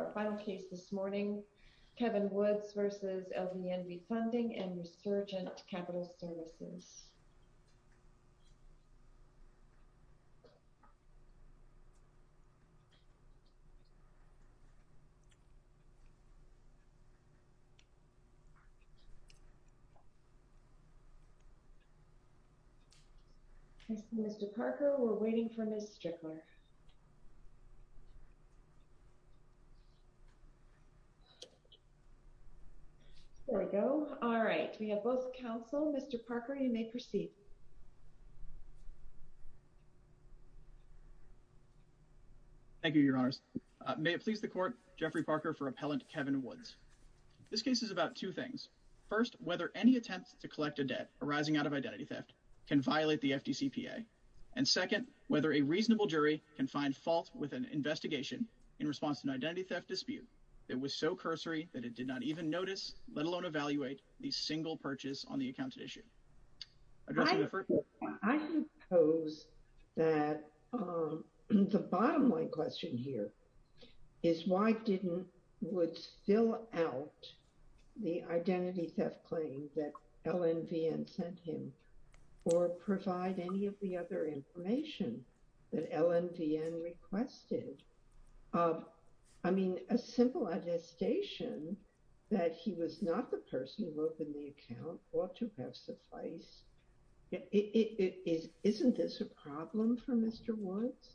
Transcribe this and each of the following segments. Our final case this morning, Kevin Woods versus LVNV Funding and Resurgent Capital Services. Mr. Parker, we're waiting for Ms. Strickler. Ms. Strickler, LVNV Funding, LLC There we go. All right. We have both counsel. Mr. Parker, you may proceed. Thank you, Your Honors. May it please the court, Jeffrey Parker for Appellant Kevin Woods. This case is about two things. First, whether any attempts to collect a debt arising out of identity theft can violate the FDCPA. And second, whether a reasonable jury can find fault with an investigation in response to an identity theft dispute that was so cursory that it did not even notice, let alone evaluate, the single purchase on the accounted issue. I suppose that the bottom line question here is why didn't Woods fill out the identity theft claim that LNVN sent him, or provide any of the other information that LNVN requested? I mean, a simple attestation that he was not the person who opened the account ought to have sufficed. Isn't this a problem for Mr. Woods?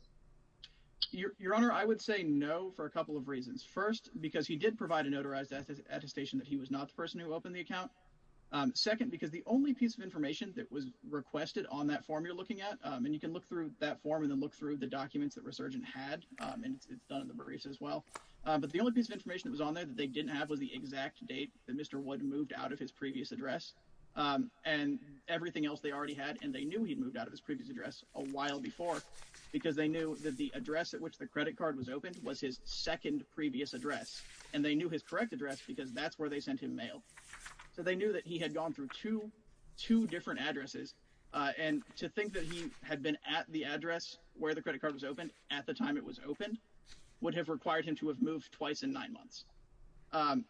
Your Honor, I would say no for a couple of reasons. First, because he did provide a notarized attestation that he was not the person who opened the account. Second, because the only piece of information that was requested on that form you're looking at, and you can look through that form and then look through the documents that Resurgent had, and it's done in the barristers as well. But the only piece of information that was on there that they didn't have was the exact date that Mr. Woods moved out of his previous address and everything else they already had. And they knew he'd moved out of his previous address a while before, because they knew that the address at which the credit card was opened was his second previous address. And they knew his correct address because that's where they sent him mail. So they knew that he had gone through two different addresses. And to think that he had been at the address where the credit card was opened at the time it was opened would have required him to have moved twice in nine months.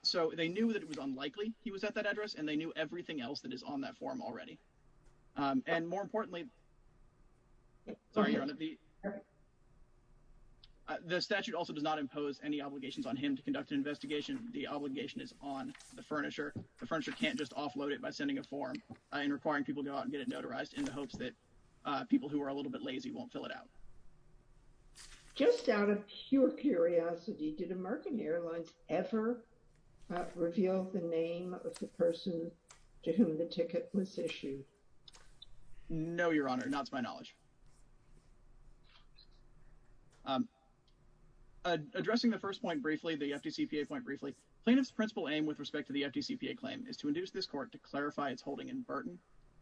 So they knew that it was unlikely he was at that address, and they knew everything else that is on that form already. And more importantly, sorry, your honor, the statute also does not impose any obligations on him to conduct an investigation. The obligation is on the furnisher. The furnisher can't just offload it by sending a form and requiring people to go out and get it notarized in the hopes that people who are a little bit lazy won't fill it out. Just out of pure curiosity, did American Airlines ever reveal the name of the person to whom the ticket was issued? No, your honor, not to my knowledge. Addressing the first point briefly, the FDCPA point briefly, plaintiff's principal aim with respect to the FDCPA claim is to induce this court to clarify its holding in Burton.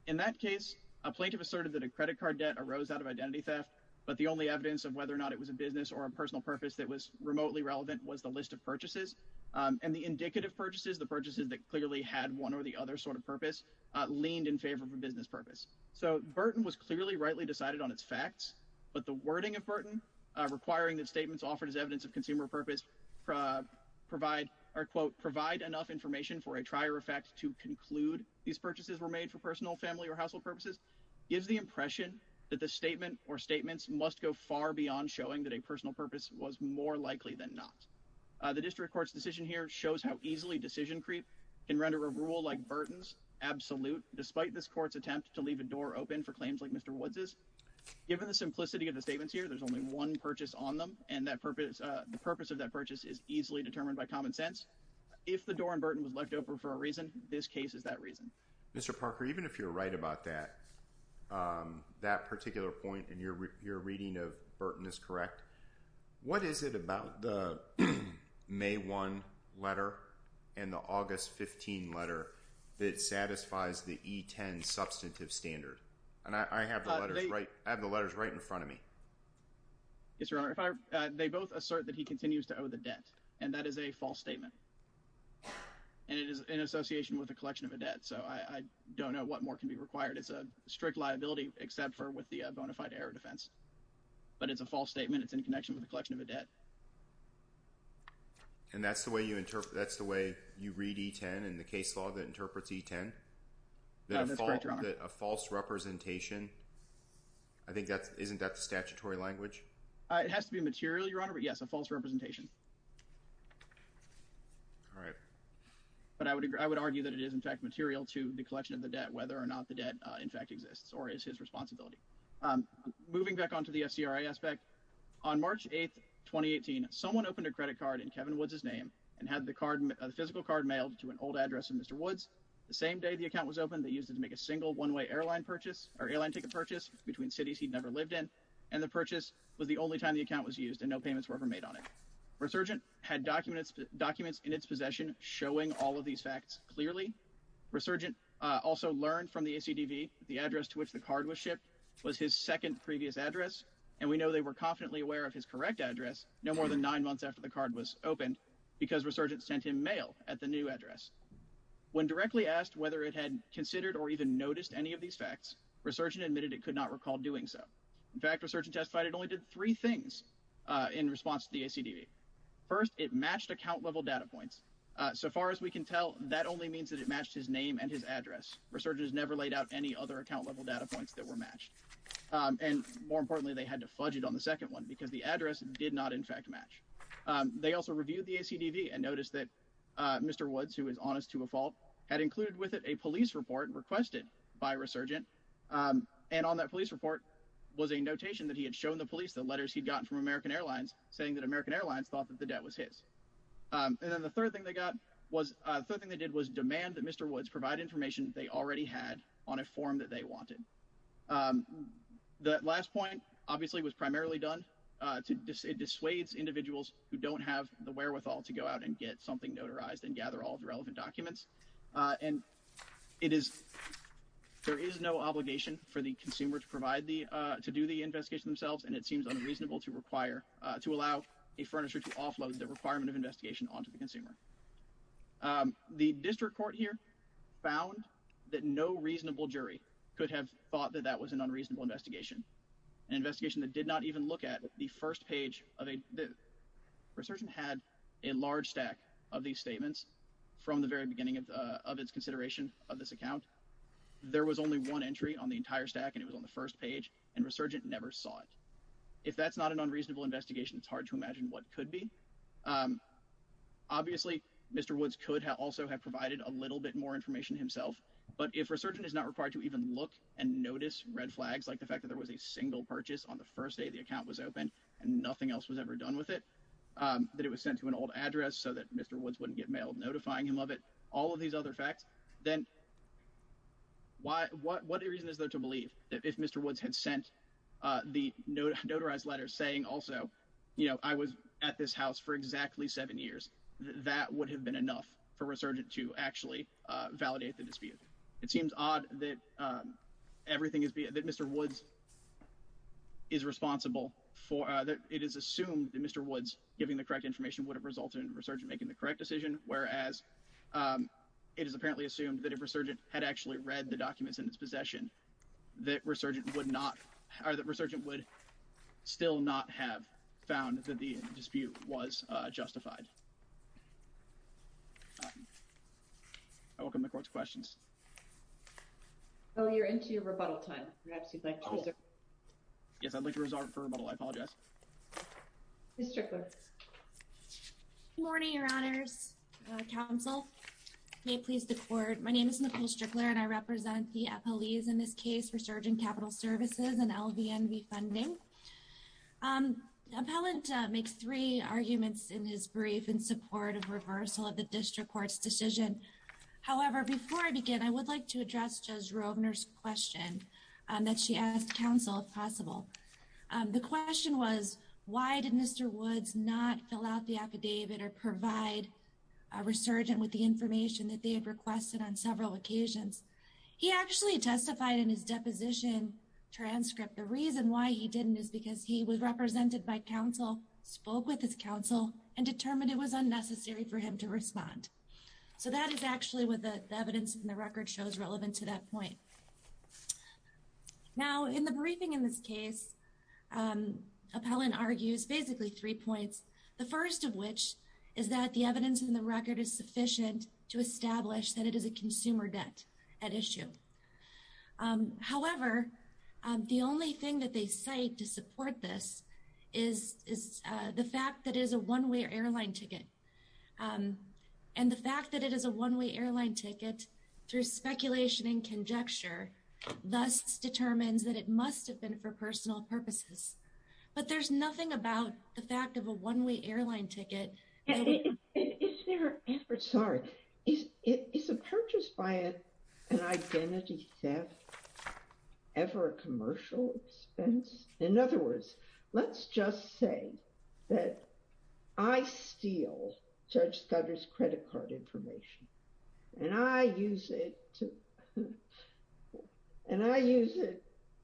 In that case, a plaintiff asserted that a credit card debt arose out of identity theft, but the only evidence of whether or not it was a business or a personal purpose that was remotely relevant was the list of purchases. And the indicative purchases, the purchases that clearly had one or the other sort of purpose, leaned in favor of a business purpose. So Burton was clearly rightly decided on its facts, but the wording of Burton, requiring that statements offered as evidence of consumer purpose provide, or quote, provide enough information for a trier effect to conclude these purchases were made for personal, family or household purposes, gives the impression that the statement or statements must go far beyond showing that a personal purpose was more likely than not. The district court's decision here shows how easily decision creep can render a rule like Burton's absolute, despite this court's attempt to leave a door open for claims like Mr. Woods'. Given the simplicity of the statements here, there's only one purchase on them. And the purpose of that purchase is easily determined by common sense. If the door in Burton was left open for a reason, this case is that reason. Mr. Parker, even if you're right about that, that particular point, and your reading of Burton is correct, what is it about the May 1 letter and the August 15 letter that satisfies the E10 substantive standard? And I have the letters right in front of me. Yes, Your Honor. They both assert that he continues to owe the debt. And that is a false statement. And it is in association with a collection of a debt. So I don't know what more can be required. It's a strict liability, except for with the bona fide error defense. But it's a false statement. It's in connection with a collection of a debt. And that's the way you interpret, that's the way you read E10 and the case law that interprets E10? No, that's correct, Your Honor. A false representation. I think that's, isn't that the statutory language? It has to be material, Your Honor, but yes, a false representation. All right. But I would argue that it is in fact material to the collection of the debt, whether or not the debt in fact exists or is his responsibility. Moving back onto the FCRI aspect, on March 8th, 2018, someone opened a credit card in Kevin Woods' name and had the physical card mailed to an old address of Mr. Woods. The same day the account was opened, they used it to make a single one-way airline purchase or airline ticket purchase between cities he'd never lived in. And the purchase was the only time the account was used and no payments were ever made on it. Resurgent had documents in its possession showing all of these facts clearly. Resurgent also learned from the ACDV the address to which the card was shipped was his second previous address. And we know they were confidently aware of his correct address no more than nine months after the card was opened because Resurgent sent him mail at the new address. When directly asked whether it had considered or even noticed any of these facts, Resurgent admitted it could not recall doing so. In fact, Resurgent testified it only did three things in response to the ACDV. First, it matched account-level data points. So far as we can tell, that only means that it matched his name and his address. Resurgent has never laid out any other account-level data points that were matched. And more importantly, they had to fudge it on the second one because the address did not in fact match. They also reviewed the ACDV and noticed that Mr. Woods, who is honest to a fault, had included with it a police report requested by Resurgent. And on that police report was a notation that he had shown the police the letters he'd gotten from American Airlines saying that American Airlines thought that the debt was his. And then the third thing they did was demand that Mr. Woods provide information they already had on a form that they wanted. The last point obviously was primarily done to dissuade individuals who don't have the wherewithal to go out and get something notarized and gather all the relevant documents. And it is, there is no obligation for the consumer to provide the, to do the investigation themselves. And it seems unreasonable to require, to allow a furniture to offload the requirement of investigation onto the consumer. The district court here found that no reasonable jury could have thought that that was an unreasonable investigation. An investigation that did not even look at the first page of a, Resurgent had a large stack of these statements from the very beginning of its consideration of this account. There was only one entry on the entire stack and it was on the first page and Resurgent never saw it. If that's not an unreasonable investigation, it's hard to imagine what could be. Obviously Mr. Woods could have also have provided a little bit more information himself, but if Resurgent is not required to even look and notice red flags, like the fact that there was a single purchase on the first day the account was open and nothing else was ever done with it, that it was sent to an old address so that Mr. Woods wouldn't get mailed, notifying him of it, all of these other facts, then what reason is there to believe that if Mr. Woods had sent the notarized letter saying also, you know, I was at this house for exactly seven years, that would have been enough for Resurgent to actually validate the dispute. It seems odd that Mr. Woods is responsible for, it is assumed that Mr. Woods giving the correct information would have resulted in Resurgent making the correct decision, whereas it is apparently assumed that if Resurgent had actually read the documents in its possession, that Resurgent would not, or that Resurgent would still not have found that the dispute was justified. I welcome the court's questions. Oh, you're into your rebuttal time. Yes, I'd like to reserve for rebuttal, I apologize. Ms. Strickler. Good morning, your honors. Council, may it please the court. My name is Nicole Strickler and I represent the appellees in this case, Resurgent Capital Services and LVNV funding. Appellant makes three arguments in his brief in support of reversal of the district court's decision. However, before I begin, that she asked council if possible. The question was, why did Mr. Woods not fill out the affidavit or provide a Resurgent with the information that they had requested on several occasions? He actually testified in his deposition transcript. The reason why he didn't is because he was represented by council, spoke with his council and determined it was unnecessary for him to respond. So that is actually what the evidence in the record shows relevant to that point. Now, in the briefing in this case, appellant argues basically three points. The first of which is that the evidence in the record is sufficient to establish that it is a consumer debt at issue. However, the only thing that they cite to support this is the fact that it is a one-way airline ticket. And the fact that it is a one-way airline ticket through speculation and conjecture, thus determines that it must have been for personal purposes. But there's nothing about the fact of a one-way airline ticket. Is there, I'm sorry, is a purchase by an identity theft ever a commercial expense? In other words, let's just say that I steal Judge Scudder's credit card information. And I use it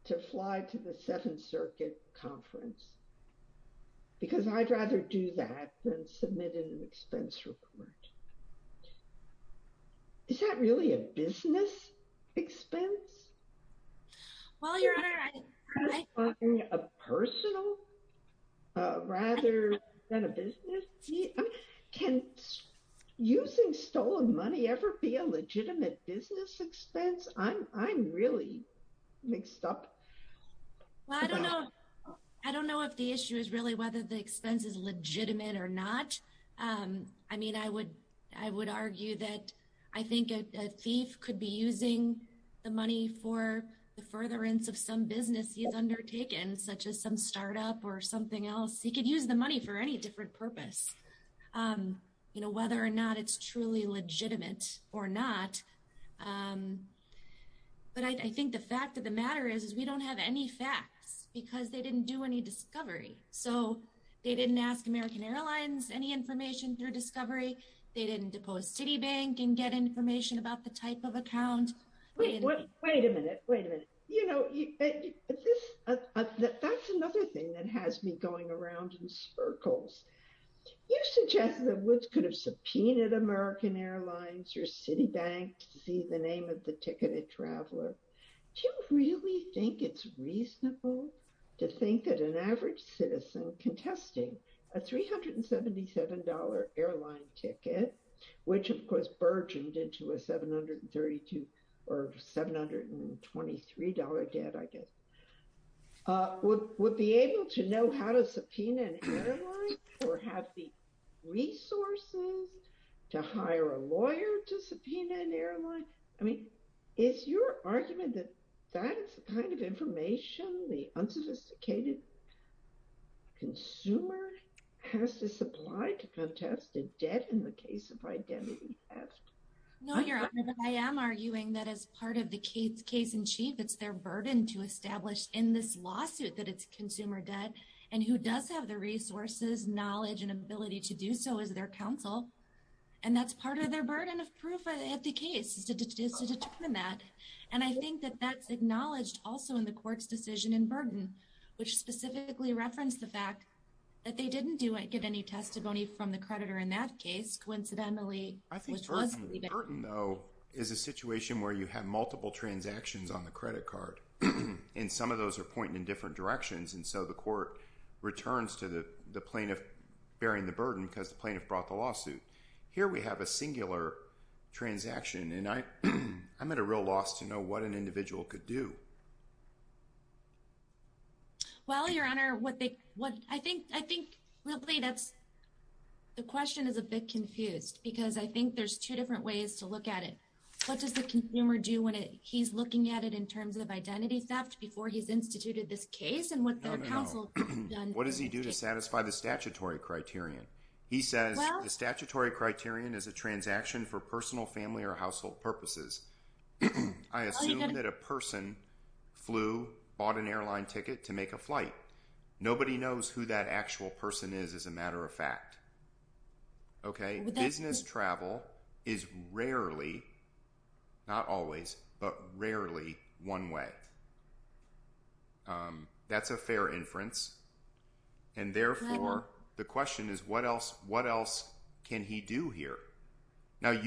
to fly to the Seventh Circuit Conference because I'd rather do that than submit an expense report. Is that really a business expense? Well, Your Honor, I- Is it a personal rather than a business? I mean, can using stolen money ever be a legitimate business expense? I'm really mixed up. Well, I don't know. I don't know if the issue is really whether the expense is legitimate or not. I mean, I would argue that I think a thief could be using the money for the furtherance of some business he's undertaken, such as some startup or something else. He could use the money for any different purpose, whether or not it's truly legitimate or not. But I think the fact of the matter is, is we don't have any facts because they didn't do any discovery. So they didn't ask American Airlines any information through discovery. They didn't depose Citibank and get information about the type of account. Wait a minute, wait a minute. You know, that's another thing that has me going around in sparkles. You suggest that Woods could have subpoenaed American Airlines or Citibank to see the name of the ticketed traveler. Do you really think it's reasonable to think that an average citizen contesting a $377 airline ticket, which of course burgeoned into a $732 or $723 ticket, I guess, would be able to know how to subpoena an airline or have the resources to hire a lawyer to subpoena an airline? I mean, is your argument that that's the kind of information the unsophisticated consumer has to supply to contest a debt in the case of identity theft? No, Your Honor, I am arguing that as part of the case in chief, it's their burden to establish in this lawsuit that it's consumer debt and who does have the resources, knowledge, and ability to do so is their counsel. And that's part of their burden of proof at the case is to determine that. And I think that that's acknowledged also in the court's decision in Burton, which specifically referenced the fact that they didn't get any testimony from the creditor in that case, coincidentally. I think Burton, though, is a situation where you have multiple transactions on the credit card, and some of those are pointing in different directions, and so the court returns to the plaintiff bearing the burden because the plaintiff brought the lawsuit. Here we have a singular transaction, and I'm at a real loss to know what an individual could do. Well, Your Honor, I think the question is a bit confused because I think there's two different ways to look at it. What does the consumer do when he's looking at it in terms of identity theft before he's instituted this case and what their counsel has done? What does he do to satisfy the statutory criterion? He says, the statutory criterion is a transaction for personal, family, or household purposes. I assume that a person flew, bought an airline ticket to make a flight. Nobody knows who that actual person is as a matter of fact. Okay, business travel is rarely, not always, but rarely one way. That's a fair inference, and therefore the question is what else can he do here? Now, at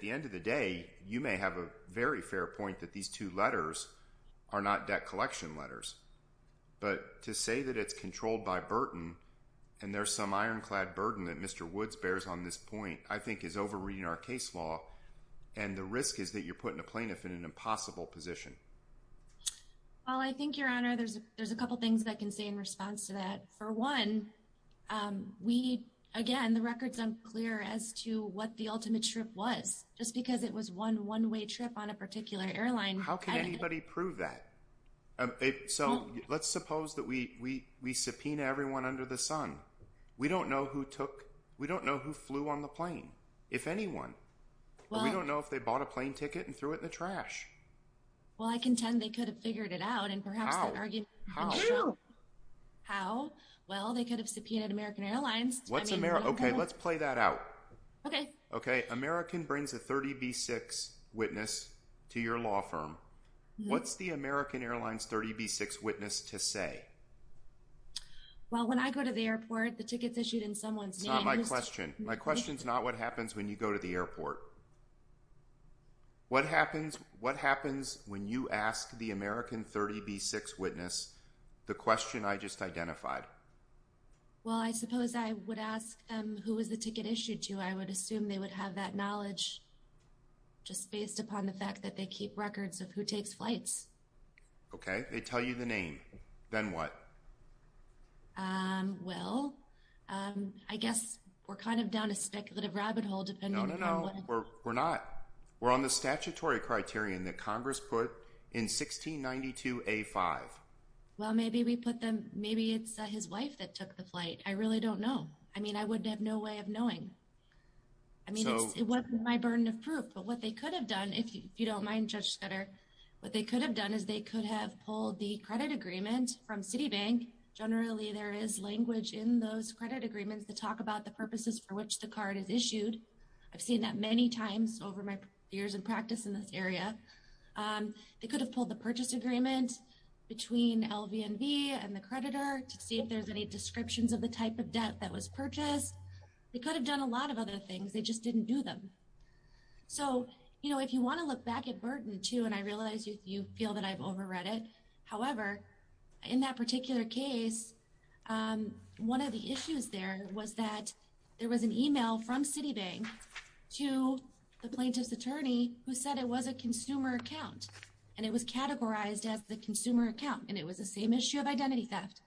the end of the day, you may have a very fair point that these two letters are not debt collection letters, but to say that it's controlled by Burton and there's some ironclad burden that Mr. Woods bears on this point I think is over-reading our case law, and the risk is that you're putting a plaintiff in an impossible position. Well, I think, Your Honor, there's a couple things that I can say in response to that. For one, again, the record's unclear as to what the ultimate trip was. Just because it was one one-way trip on a particular airline. How can anybody prove that? So let's suppose that we subpoena everyone under the sun. We don't know who took, we don't know who flew on the plane, if anyone. Well, we don't know if they bought a plane ticket and threw it in the trash. Well, I contend they could have figured it out, and perhaps that argument would have been shown. How? Well, they could have subpoenaed American Airlines. What's Ameri... Okay, let's play that out. Okay. Okay, American brings a 30B6 witness to your law firm. What's the American Airlines 30B6 witness to say? Well, when I go to the airport, the ticket's issued in someone's name. It's not my question. My question's not what happens when you go to the airport. What happens when you ask the American 30B6 witness the question I just identified? Well, I suppose I would ask them who was the ticket issued to? I would assume they would have that knowledge just based upon the fact that they keep records of who takes flights. Okay, they tell you the name. Then what? Well, I guess we're kind of down a speculative rabbit hole depending on what... No, no, no. We're not. We're on the statutory criterion that Congress put in 1692A5. Well, maybe we put them... Maybe it's his wife that took the flight. I really don't know. I mean, I would have no way of knowing. I mean, it wasn't my burden of proof, but what they could have done, if you don't mind, Judge Sutter, what they could have done is they could have pulled the credit agreement from Citibank. Generally, there is language in those credit agreements to talk about the purposes for which the card is issued. I've seen that many times over my years of practice in this area. They could have pulled the purchase agreement between LVNB and the creditor to see if there's any descriptions of the type of debt that was purchased. They could have done a lot of other things. They just didn't do them. So, if you wanna look back at Burton too, and I realize you feel that I've overread it. However, in that particular case, one of the issues there was that there was an email from Citibank to the plaintiff's attorney who said it was a consumer account and it was categorized as the consumer account and it was the same issue of identity theft.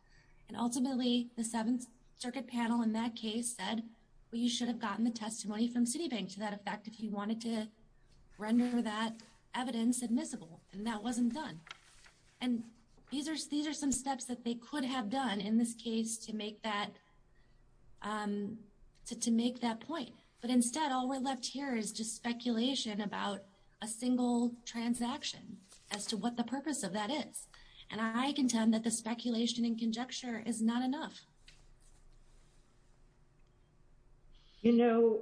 And ultimately, the Seventh Circuit panel in that case said, well, you should have gotten the testimony from Citibank to that effect if you wanted to render that evidence admissible, and that wasn't done. And these are some steps that they could have done in this case to make that point. But instead, all we're left here is just speculation about a single transaction as to what the purpose of that is. And I contend that the speculation and conjecture is not enough. You know,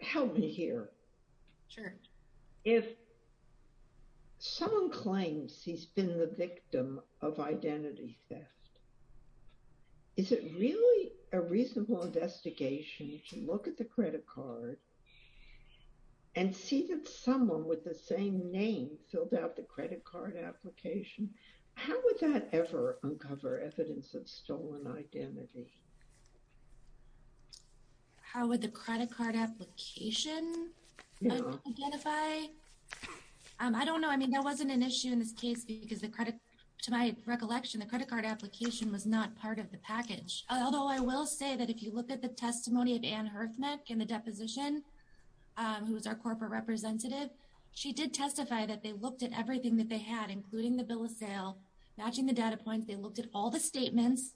help me here. Sure. If someone claims he's been the victim of identity theft, is it really a reasonable investigation to look at the credit card and see that someone with the same name filled out the credit card application? How would that ever uncover evidence of identity theft? How would that ever uncover evidence of stolen identity? How would the credit card application identify? I don't know. I mean, there wasn't an issue in this case because to my recollection, the credit card application was not part of the package. Although I will say that if you look at the testimony of Anne Herfnick in the deposition, who was our corporate representative, she did testify that they looked at everything that they had including the bill of sale, matching the data points, they looked at all the statements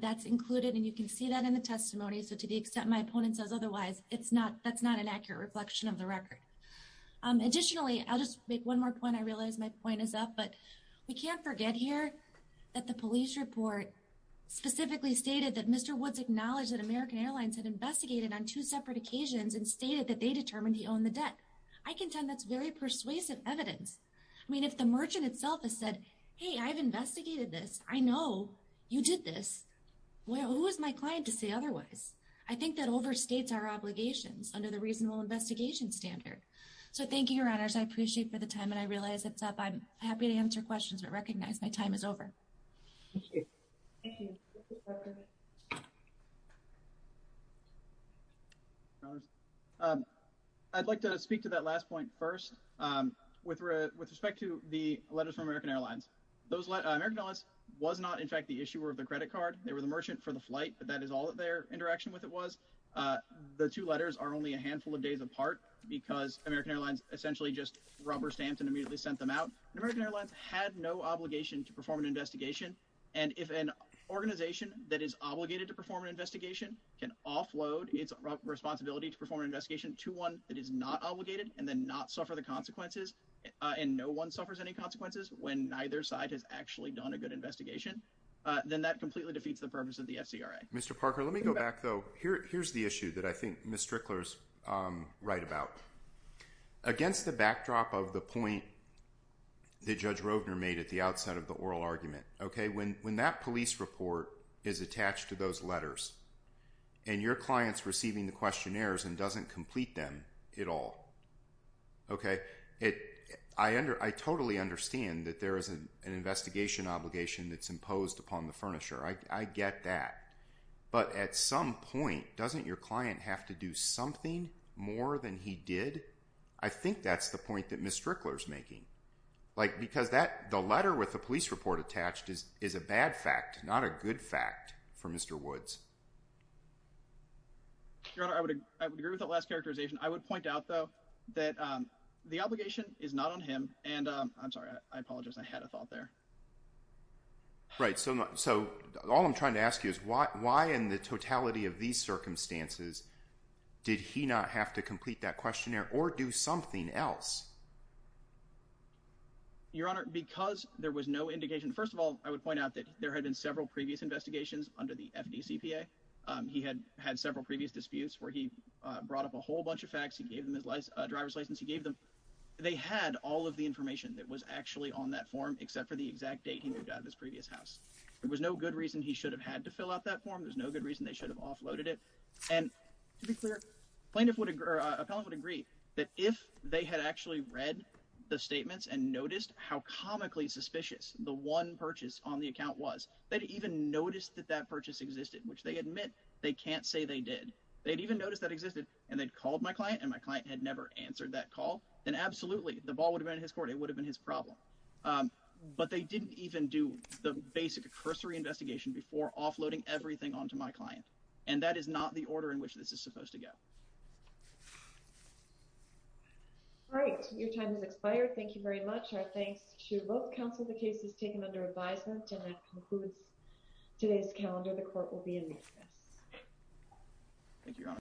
that's included, and you can see that in the testimony. So to the extent my opponent says otherwise, that's not an accurate reflection of the record. Additionally, I'll just make one more point. I realize my point is up, but we can't forget here that the police report specifically stated that Mr. Woods acknowledged that American Airlines had investigated on two separate occasions and stated that they determined he owned the debt. I contend that's very persuasive evidence. I mean, if the merchant itself has said, hey, I've investigated this. I know you did this. Well, who is my client to say otherwise? I think that overstates our obligations under the reasonable investigation standard. So thank you, your honors. I appreciate for the time and I realize it's up. I'm happy to answer questions, but recognize my time is over. I'd like to speak to that last point first with respect to the letters from American Airlines. Those American Airlines was not in fact the issuer of the credit card. They were the merchant for the flight, but that is all that their interaction with it was. The two letters are only a handful of days apart because American Airlines essentially just rubber stamped and immediately sent them out. And American Airlines had no obligation to perform an investigation. And if an organization that is obligated to perform an investigation can offload its responsibility to perform an investigation to one that is not obligated and then not suffer the consequences and no one suffers any consequences when neither side has actually done a good investigation, then that completely defeats the purpose of the FCRA. Mr. Parker, let me go back though. Here's the issue that I think Ms. Strickler's right about. Against the backdrop of the point that Judge Rovner made at the outset of the oral argument, okay? When that police report is attached to those letters and your client's receiving the questionnaires and doesn't complete them at all, okay? I totally understand that there is an investigation obligation that's imposed upon the furnisher. I get that. But at some point, doesn't your client have to do something more than he did? I think that's the point that Ms. Strickler's making. Like because the letter with the police report attached is a bad fact, not a good fact for Mr. Woods. Your Honor, I would agree with that last characterization. I would point out though that the obligation is not on him and I'm sorry, I apologize. I had a thought there. Right. So all I'm trying to ask you is why in the totality of these circumstances did he not have to complete that questionnaire or do something else? Your Honor, because there was no indication. First of all, I would point out that there had been several previous investigations under the FDCP. He had had several previous disputes where he brought up a whole bunch of facts. He gave them his driver's license. He gave them. They had all of the information that was actually on that form except for the exact date he moved out of his previous house. There was no good reason he should have had to fill out that form. There's no good reason they should have offloaded it. And to be clear, plaintiff would agree or appellant would agree that if they had actually read the statements and noticed how comically suspicious the one purchase on the account was, they'd even noticed that that purchase existed, which they admit they can't say they did. They'd even noticed that existed and they'd called my client and my client had never answered that call. Then absolutely the ball would have been in his court. It would have been his problem, but they didn't even do the basic cursory investigation before offloading everything onto my client. And that is not the order in which this is supposed to go. All right, your time has expired. Thank you very much. Our thanks to both counsel. The case is taken under advisement and that concludes today's calendar. The court will be in recess. Thank you.